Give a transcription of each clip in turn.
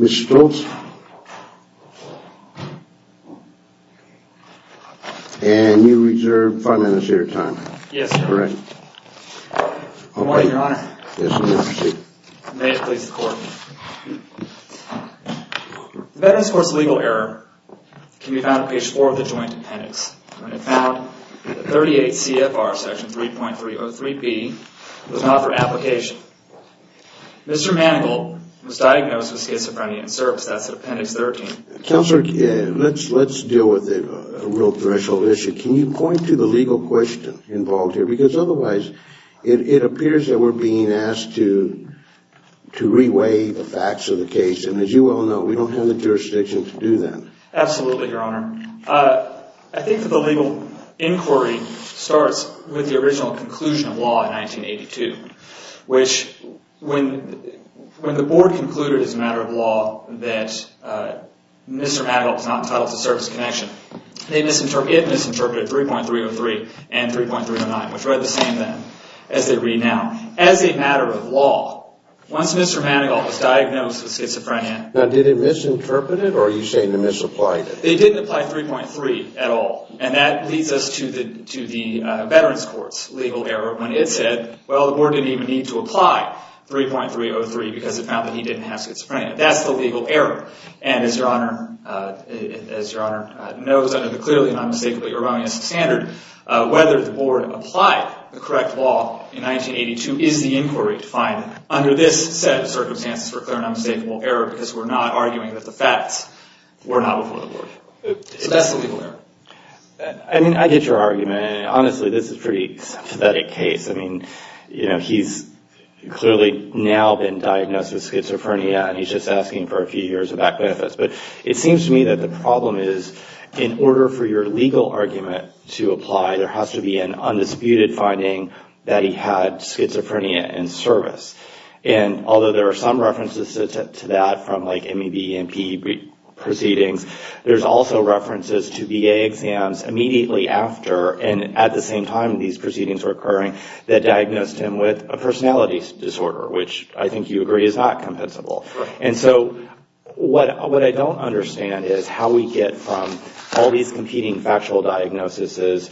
Mr. Stoltz, and you reserve 5 minutes of your time. Yes, sir. All right. Good morning, Your Honor. Yes, Your Honor. May it please the Court. The Veterans' Court's legal error can be found on page 4 of the Joint Appendix. It found that 38 CFR Section 3.303B was not for application. Mr. Manigault was diagnosed with schizophrenia and serves. That's in Appendix 13. Counselor, let's deal with a real threshold issue. Can you point to the legal question involved here? Because otherwise it appears that we're being asked to reweigh the facts of the case. And as you well know, we don't have the jurisdiction to do that. Absolutely, Your Honor. I think that the legal inquiry starts with the original conclusion of law in 1982, which when the board concluded as a matter of law that Mr. Manigault was not entitled to service connection, it misinterpreted 3.303 and 3.309, which were the same then as they read now. As a matter of law, once Mr. Manigault was diagnosed with schizophrenia Now, did it misinterpret it, or are you saying they misapplied it? They didn't apply 3.3 at all. And that leads us to the Veterans Court's legal error when it said, well, the board didn't even need to apply 3.303 because it found that he didn't have schizophrenia. That's the legal error. And as Your Honor knows under the clearly and unmistakably erroneous standard, whether the board applied the correct law in 1982 is the inquiry to find under this set of circumstances for a clear and unmistakable error because we're not arguing that the facts were not before the board. So that's the legal error. I mean, I get your argument. And honestly, this is a pretty pathetic case. I mean, you know, he's clearly now been diagnosed with schizophrenia, and he's just asking for a few years of back benefits. But it seems to me that the problem is in order for your legal argument to apply, there has to be an undisputed finding that he had schizophrenia in service. And although there are some references to that from like MEB and PE proceedings, there's also references to VA exams immediately after and at the same time these proceedings were occurring that diagnosed him with a personality disorder, which I think you agree is not compensable. And so what I don't understand is how we get from all these competing factual diagnoses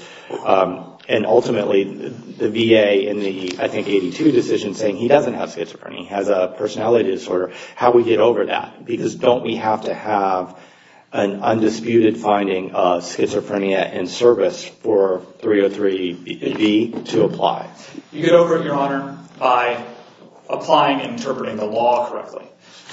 and ultimately the VA in the, I think, 82 decision saying he doesn't have schizophrenia, he has a personality disorder, how we get over that? Because don't we have to have an undisputed finding of schizophrenia in service for 303B to apply? You get over it, Your Honor, by applying and interpreting the law correctly.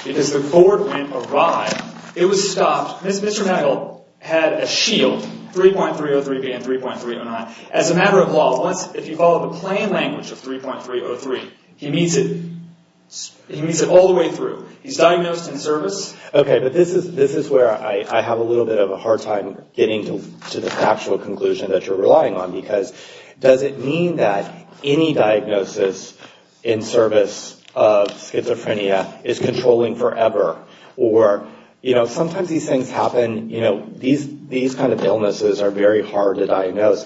Because the court, when it arrived, it was stopped. Mr. Megill had a shield, 3.303B and 3.309. As a matter of law, if you follow the plain language of 3.303, he meets it all the way through. He's diagnosed in service. Okay, but this is where I have a little bit of a hard time getting to the factual conclusion that you're relying on because does it mean that any diagnosis in service of schizophrenia is controlling forever? Or, you know, sometimes these things happen, you know, these kind of illnesses are very hard to diagnose.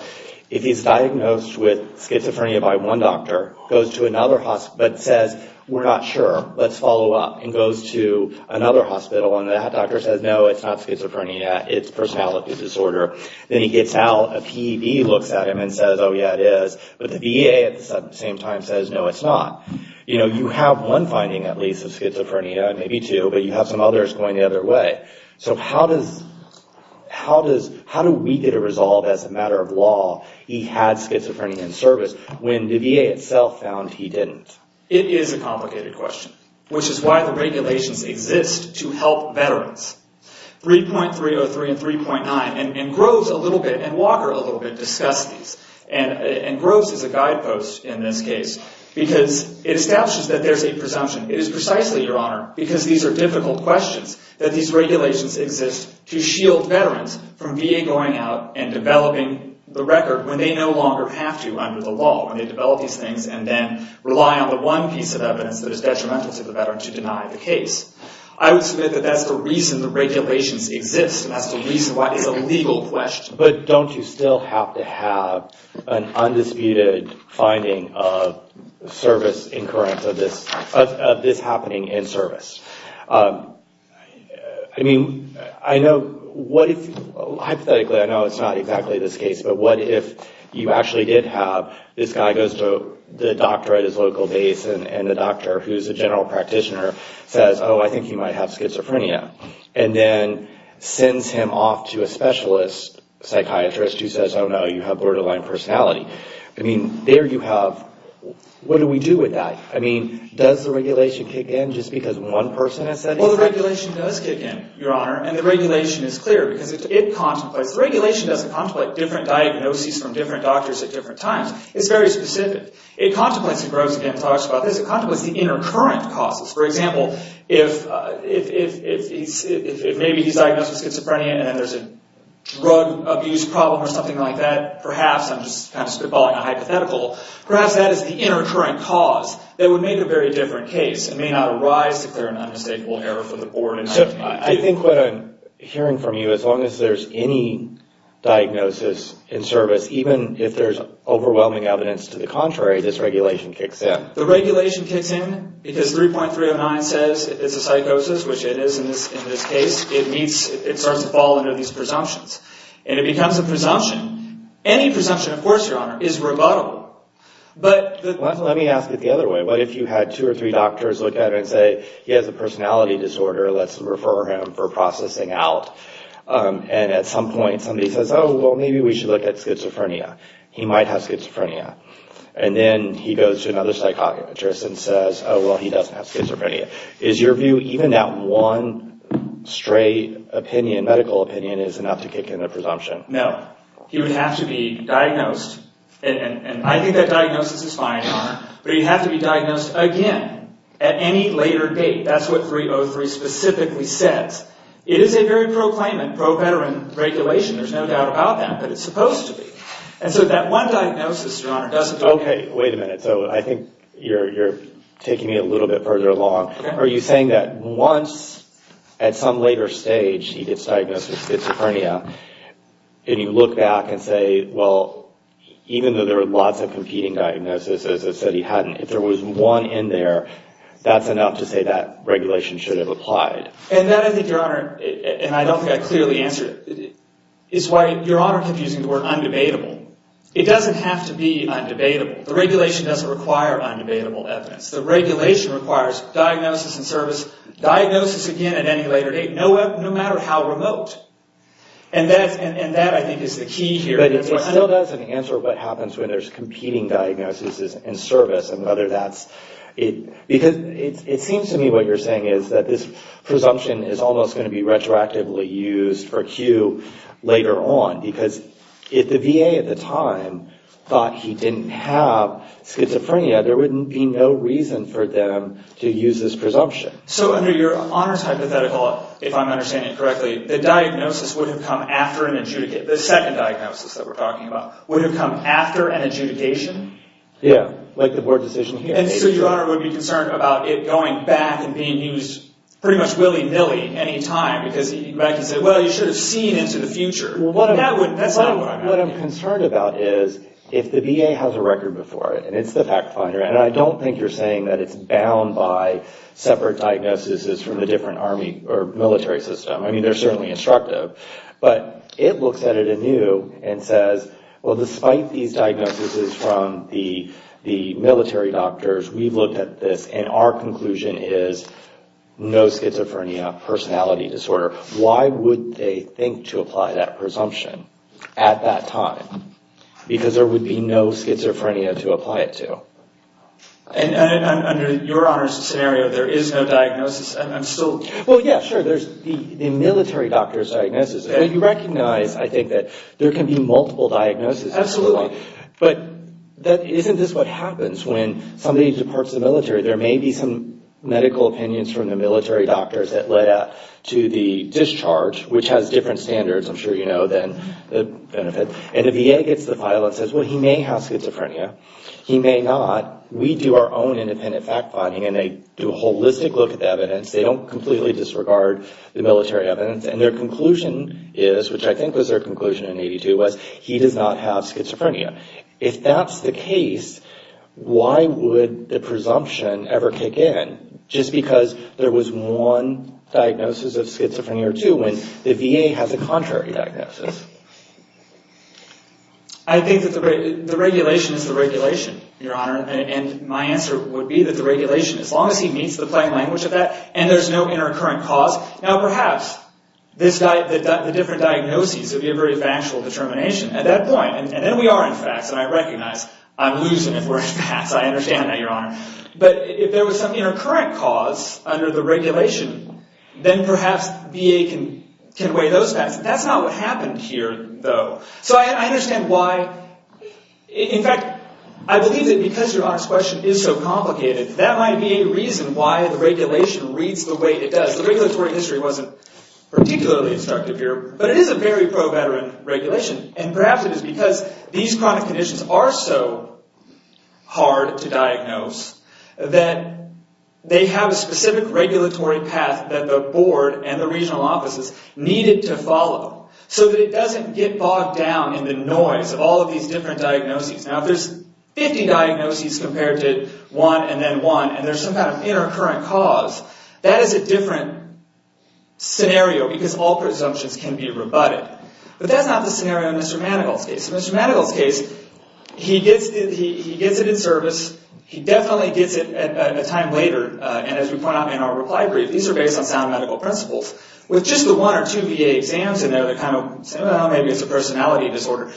If he's diagnosed with schizophrenia by one doctor, goes to another hospital, but says, we're not sure, let's follow up, and goes to another hospital and that doctor says, no, it's not schizophrenia, it's personality disorder. Then he gets out, a PEB looks at him and says, oh, yeah, it is. But the VA at the same time says, no, it's not. You know, you have one finding, at least, of schizophrenia, maybe two, but you have some others going the other way. So how do we get a resolve as a matter of law he had schizophrenia in service when the VA itself found he didn't? It is a complicated question, which is why the regulations exist to help veterans. 3.303 and 3.9, and Groves a little bit and Walker a little bit discussed these. And Groves is a guidepost in this case because it establishes that there's a presumption. It is precisely, Your Honor, because these are difficult questions, that these regulations exist to shield veterans from VA going out and developing the record when they no longer have to under the law, when they develop these things and then rely on the one piece of evidence that is detrimental to the veteran to deny the case. I would submit that that's the reason the regulations exist. That's the reason why it's a legal question. But don't you still have to have an undisputed finding of service in current of this happening in service? I mean, I know, hypothetically, I know it's not exactly this case, but what if you actually did have this guy goes to the doctor at his local base and the doctor, who's a general practitioner, says, oh, I think he might have schizophrenia. And then sends him off to a specialist psychiatrist who says, oh, no, you have borderline personality. I mean, there you have, what do we do with that? I mean, does the regulation kick in just because one person has said it? Well, the regulation does kick in, Your Honor. And the regulation is clear because it contemplates, the regulation doesn't contemplate different diagnoses from different doctors at different times. It's very specific. It contemplates, and Groves again talks about this, it contemplates the inner current causes. For example, if maybe he's diagnosed with schizophrenia and then there's a drug abuse problem or something like that, perhaps, I'm just kind of spitballing a hypothetical, perhaps that is the inner current cause that would make a very different case. It may not arise to clear an unmistakable error from the board. I think what I'm hearing from you, as long as there's any diagnosis in service, even if there's overwhelming evidence to the contrary, this regulation kicks in. The regulation kicks in because 3.309 says it's a psychosis, which it is in this case. It meets, it starts to fall under these presumptions. And it becomes a presumption. Any presumption, of course, Your Honor, is rebuttable. Let me ask it the other way. What if you had two or three doctors look at it and say, he has a personality disorder, let's refer him for processing out. And at some point, somebody says, oh, well, maybe we should look at schizophrenia. He might have schizophrenia. And then he goes to another psychiatrist and says, oh, well, he doesn't have schizophrenia. Is your view, even that one straight opinion, medical opinion, is enough to kick in a presumption? No. He would have to be diagnosed. And I think that diagnosis is fine, Your Honor. But he'd have to be diagnosed again at any later date. That's what 3.03 specifically says. It is a very pro-claimant, pro-veteran regulation. There's no doubt about that. But it's supposed to be. And so that one diagnosis, Your Honor, doesn't... Okay, wait a minute. So I think you're taking me a little bit further along. Are you saying that once, at some later stage, he gets diagnosed with schizophrenia, and you look back and say, well, even though there are lots of competing diagnoses, as I said, he hadn't, if there was one in there, that's enough to say that regulation should have applied? And that, I think, Your Honor, and I don't think I clearly answered it, is why Your Honor kept using the word undebatable. It doesn't have to be undebatable. The regulation doesn't require undebatable evidence. The regulation requires diagnosis and service, diagnosis again at any later date, no matter how remote. And that, I think, is the key here. But it still doesn't answer what happens when there's competing diagnosis and service and whether that's... Because it seems to me what you're saying is that this presumption is almost going to be retroactively used for Q later on, because if the VA at the time thought he didn't have schizophrenia, there wouldn't be no reason for them to use this presumption. So under Your Honor's hypothetical, if I'm understanding it correctly, the diagnosis would have come after an adjudicate, the second diagnosis that we're talking about, would have come after an adjudication? Yeah, like the word decision here. And so Your Honor would be concerned about it going back and being used pretty much willy-nilly any time, because he might say, well, you should have seen into the future. That's not what I'm asking. What I'm concerned about is if the VA has a record before it, and it's the fact finder, and I don't think you're saying that it's bound by separate diagnoses from the different army or military system. I mean, they're certainly instructive. But it looks at it anew and says, well, despite these diagnoses from the military doctors, we've looked at this, and our conclusion is no schizophrenia, personality disorder. Why would they think to apply that presumption at that time? Because there would be no schizophrenia to apply it to. And under Your Honor's scenario, there is no diagnosis. Well, yeah, sure, there's the military doctor's diagnosis. You recognize, I think, that there can be multiple diagnoses. Absolutely. But isn't this what happens when somebody departs the military? There may be some medical opinions from the military doctors that led up to the discharge, which has different standards, I'm sure you know, than the benefit. And the VA gets the file and says, well, he may have schizophrenia. He may not. We do our own independent fact finding, and they do a holistic look at the evidence. They don't completely disregard the military evidence. And their conclusion is, which I think was their conclusion in 82, was he does not have schizophrenia. If that's the case, why would the presumption ever kick in, just because there was one diagnosis of schizophrenia or two, when the VA has a contrary diagnosis? I think that the regulation is the regulation, Your Honor. And my answer would be that the regulation, as long as he meets the plain language of that, and there's no intercurrent cause, now perhaps the different diagnoses would be a very factual determination at that point. And then we are in facts, and I recognize, I'm losing if we're in facts. I understand that, Your Honor. But if there was some intercurrent cause under the regulation, then perhaps VA can weigh those facts. That's not what happened here, though. So I understand why. In fact, I believe that because Your Honor's question is so complicated, that might be a reason why the regulation reads the way it does. The regulatory history wasn't particularly instructive here, but it is a very pro-veteran regulation. And perhaps it is because these chronic conditions are so hard to diagnose that they have a specific regulatory path that the board and the regional offices needed to follow, so that it doesn't get bogged down in the noise of all of these different diagnoses. Now, if there's 50 diagnoses compared to one and then one, and there's some kind of intercurrent cause, that is a different scenario, because all presumptions can be rebutted. But that's not the scenario in Mr. Manigault's case. In Mr. Manigault's case, he gets it in service. He definitely gets it a time later. And as we point out in our reply brief, these are based on sound medical principles. With just the one or two VA exams in there, they're kind of, well, maybe it's a personality disorder.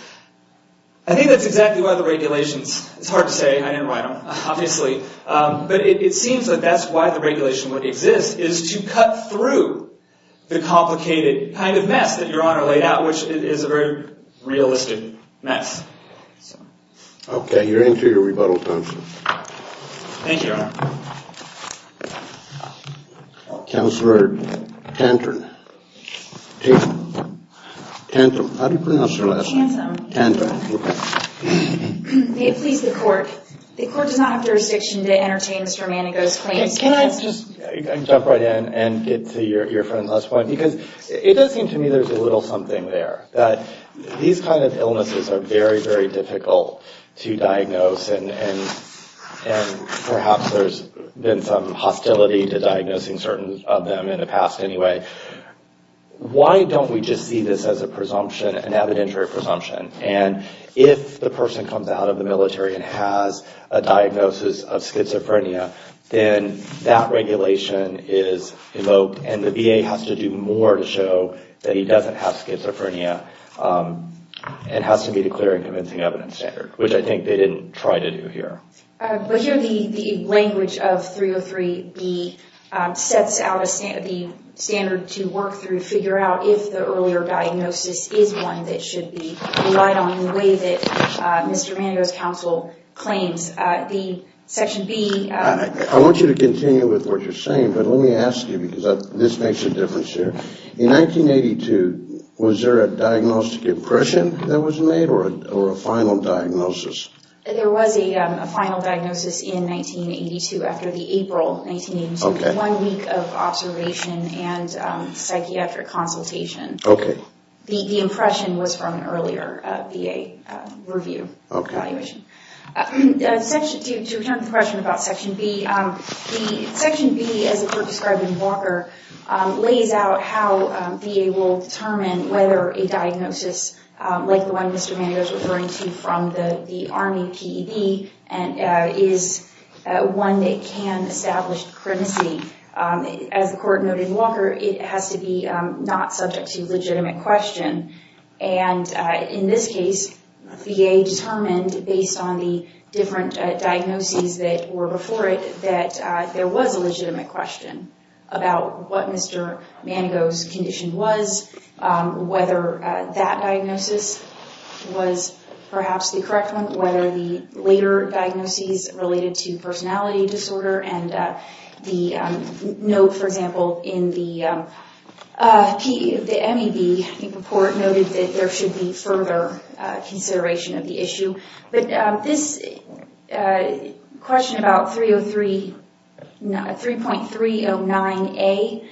I think that's exactly why the regulations, it's hard to say, I didn't write them, obviously. But it seems that that's why the regulation would exist, is to cut through the complicated kind of mess that Your Honor laid out, which is a very realistic mess. Okay, you're into your rebuttal time, sir. Thank you, Your Honor. Counselor Tantum. Tantum. Tantum. How do you pronounce your last name? Tantum. Tantum, okay. May it please the court, the court does not have jurisdiction to entertain Mr. Manigault's claims. Okay, can I just jump right in and get to your friend's last point? Because it does seem to me there's a little something there, that these kind of illnesses are very, very difficult to diagnose, and perhaps there's been some hostility to diagnosing certain of them in the past anyway. Why don't we just see this as a presumption, an evidentiary presumption? And if the person comes out of the military and has a diagnosis of schizophrenia, then that regulation is evoked, and the VA has to do more to show that he doesn't have schizophrenia, and has to be declaring convincing evidence standard, which I think they didn't try to do here. But here the language of 303B sets out the standard to work through, figure out if the earlier diagnosis is one that should be relied on in the way that Mr. Manigault's counsel claims. I want you to continue with what you're saying, but let me ask you, because this makes a difference here. In 1982, was there a diagnostic impression that was made, or a final diagnosis? There was a final diagnosis in 1982, after the April 1982 one week of observation and psychiatric consultation. Okay. The impression was from an earlier VA review evaluation. To return to the question about Section B, Section B, as the court described in Walker, lays out how VA will determine whether a diagnosis like the one Mr. Manigault's referring to from the Army PED is one that can establish the credency. As the court noted in Walker, it has to be not subject to legitimate question. In this case, VA determined, based on the different diagnoses that were before it, that there was a legitimate question about what Mr. Manigault's condition was, whether that diagnosis was perhaps the correct one, whether the later diagnoses related to personality disorder, and the note, for example, in the MEB report, noted that there should be further consideration of the issue. But this question about 3.309A,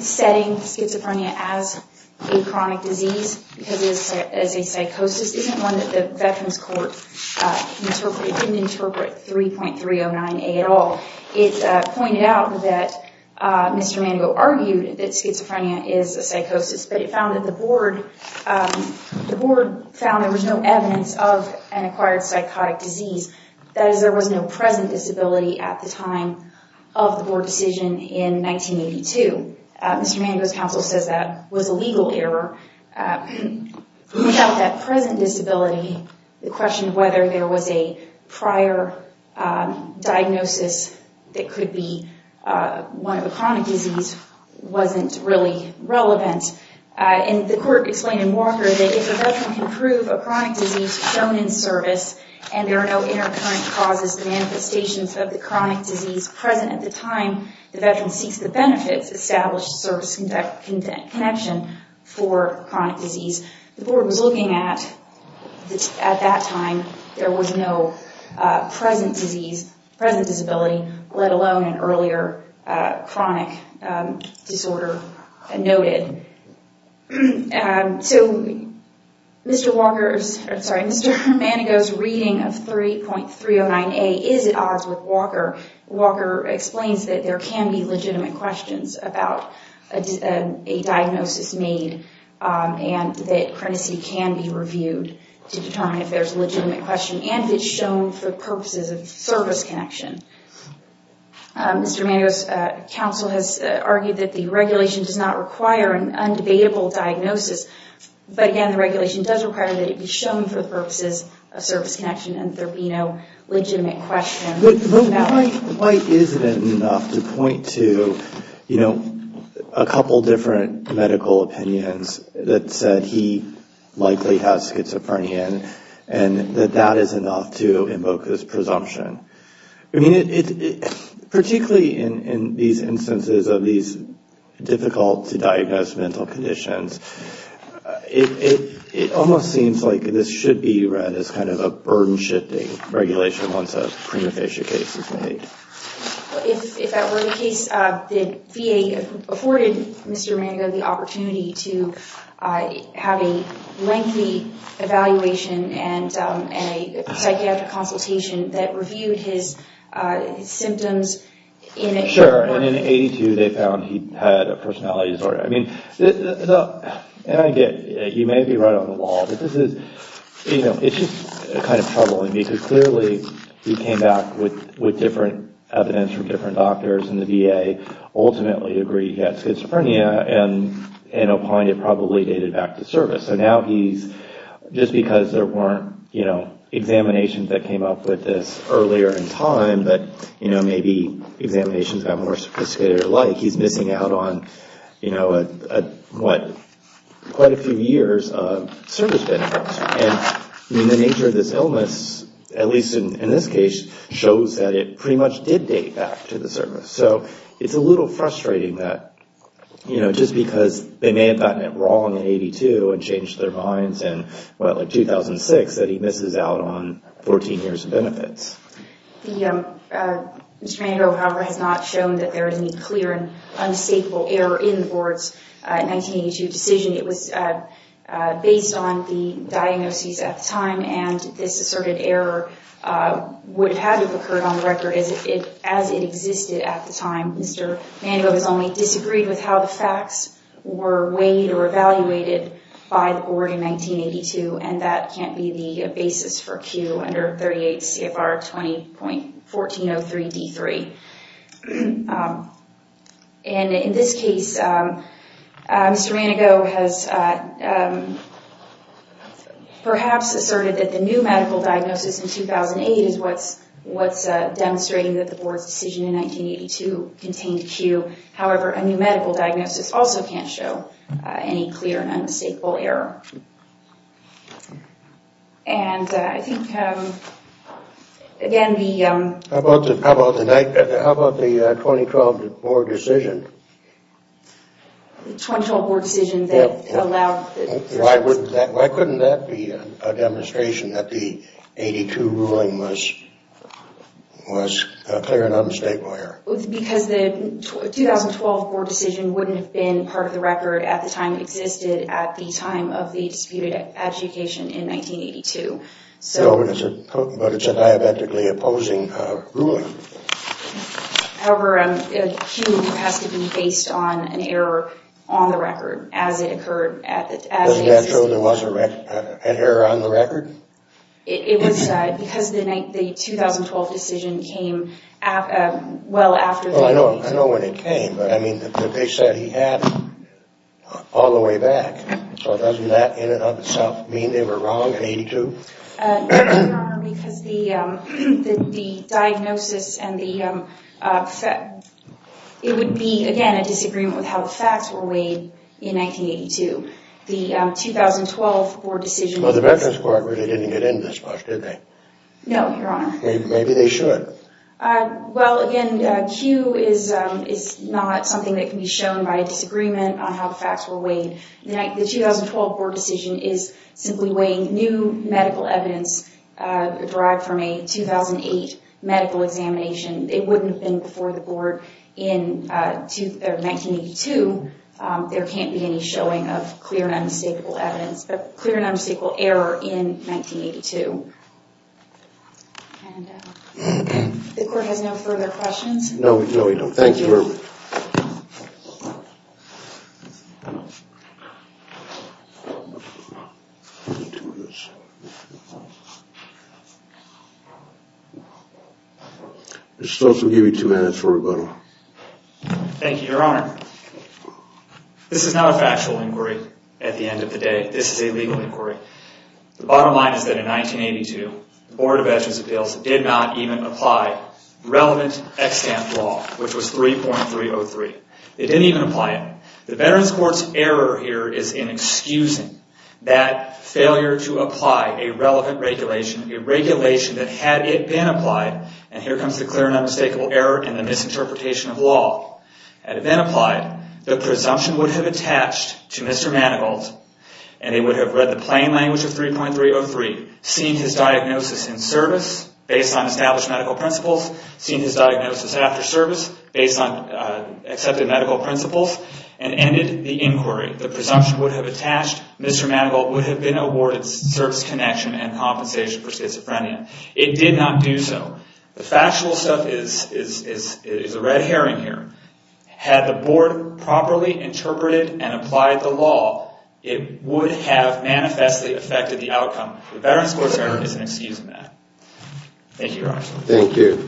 setting schizophrenia as a chronic disease, because it is a psychosis, this isn't one that the Veterans Court can interpret. It didn't interpret 3.309A at all. It pointed out that Mr. Manigault argued that schizophrenia is a psychosis, but it found that the board found there was no evidence of an acquired psychotic disease. That is, there was no present disability at the time of the board decision in 1982. Mr. Manigault's counsel says that was a legal error. Without that present disability, the question of whether there was a prior diagnosis that could be one of a chronic disease wasn't really relevant. And the court explained in Walker that if a Veteran can prove a chronic disease shown in service and there are no intercurrent causes or manifestations of the chronic disease present at the time, the Veteran seeks the benefits established service connection for chronic disease. The board was looking at, at that time, there was no present disease, present disability, let alone an earlier chronic disorder noted. So Mr. Manigault's reading of 3.309A is at odds with Walker. Walker explains that there can be legitimate questions about a diagnosis made and that chronicity can be reviewed to determine if there's a legitimate question and if it's shown for purposes of service connection. Mr. Manigault's counsel has argued that the regulation does not require an undebatable diagnosis, but again, the regulation does require that it be shown for the purposes of service connection and there be no legitimate question. But why isn't it enough to point to, you know, a couple different medical opinions that said he likely has schizophrenia and that that is enough to invoke this presumption? I mean, particularly in these instances of these difficult to diagnose mental conditions, it almost seems like this should be read as kind of a burden-shifting regulation once a prima facie case is made. If that were the case, did VA afford Mr. Manigault the opportunity to have a lengthy evaluation and a psychiatric consultation that reviewed his symptoms? Sure, and in 82, they found he had a personality disorder. I mean, and again, he may be right on the wall, but this is, you know, it's just kind of troubling because clearly he came back with different evidence from different doctors and the VA ultimately agreed he had schizophrenia and opined it probably dated back to service. So now he's, just because there weren't, you know, examinations that came up with this earlier in time, but, you know, maybe examinations got more sophisticated or like, he's missing out on, you know, quite a few years of service benefits. And the nature of this illness, at least in this case, shows that it pretty much did date back to the service. So it's a little frustrating that, you know, just because they may have gotten it wrong in 82 and changed their minds in, what, like 2006, that he misses out on 14 years of benefits. Mr. Manigault, however, has not shown that there is any clear and unshakable error in the board's 1982 decision. It was based on the diagnoses at the time and this asserted error would have had to have occurred on the record as it existed at the time. Mr. Manigault has only disagreed with how the facts were weighed or evaluated by the board in 1982 and that can't be the basis for Q under 38 CFR 20.1403 D3. And in this case, Mr. Manigault has perhaps asserted that the new medical diagnosis in 2008 is what's demonstrating that the board's decision in 1982 contained Q. However, a new medical diagnosis also can't show any clear and unmistakable error. And I think, again, the... How about the 2012 board decision? The 2012 board decision that allowed... Why couldn't that be a demonstration that the 82 ruling was clear and unmistakable error? Because the 2012 board decision wouldn't have been part of the record at the time it existed at the time of the disputed adjudication in 1982. But it's a diabetically opposing ruling. However, Q has to be based on an error on the record as it occurred. Isn't that true there was an error on the record? It was because the 2012 decision came well after... I know when it came, but they said he had it all the way back. So doesn't that in and of itself mean they were wrong in 82? No, Your Honor, because the diagnosis and the... It would be, again, a disagreement with how the facts were weighed in 1982. The 2012 board decision... Well, the Veterans Court really didn't get in this much, did they? No, Your Honor. Maybe they should. The 2012 board decision is simply weighing new medical evidence derived from a 2008 medical examination. It wouldn't have been before the board in 1982. There can't be any showing of clear and unmistakable evidence, but clear and unmistakable error in 1982. And the court has no further questions? No, we don't. Thank you, Your Honor. Ms. Stokes will give you two minutes for rebuttal. Thank you, Your Honor. This is not a factual inquiry at the end of the day. This is a legal inquiry. The bottom line is that in 1982, the Board of Veterans' Appeals did not even apply relevant extant law, which was 3.303. They didn't even apply it. The Veterans Court's error here is in excusing that failure to apply a relevant regulation, a regulation that had it been applied, and here comes the clear and unmistakable error and the misinterpretation of law. Had it been applied, the presumption would have attached to Mr. Manigault, and they would have read the plain language of 3.303, seen his diagnosis in service, based on established medical principles, seen his diagnosis after service, based on accepted medical principles, and ended the inquiry. The presumption would have attached, Mr. Manigault would have been awarded service connection and compensation for schizophrenia. It did not do so. The factual stuff is a red herring here. Had the Board properly interpreted and applied the law, it would have manifestly affected the outcome. The Veterans Court's error is in excusing that. Thank you, Your Honor. Thank you.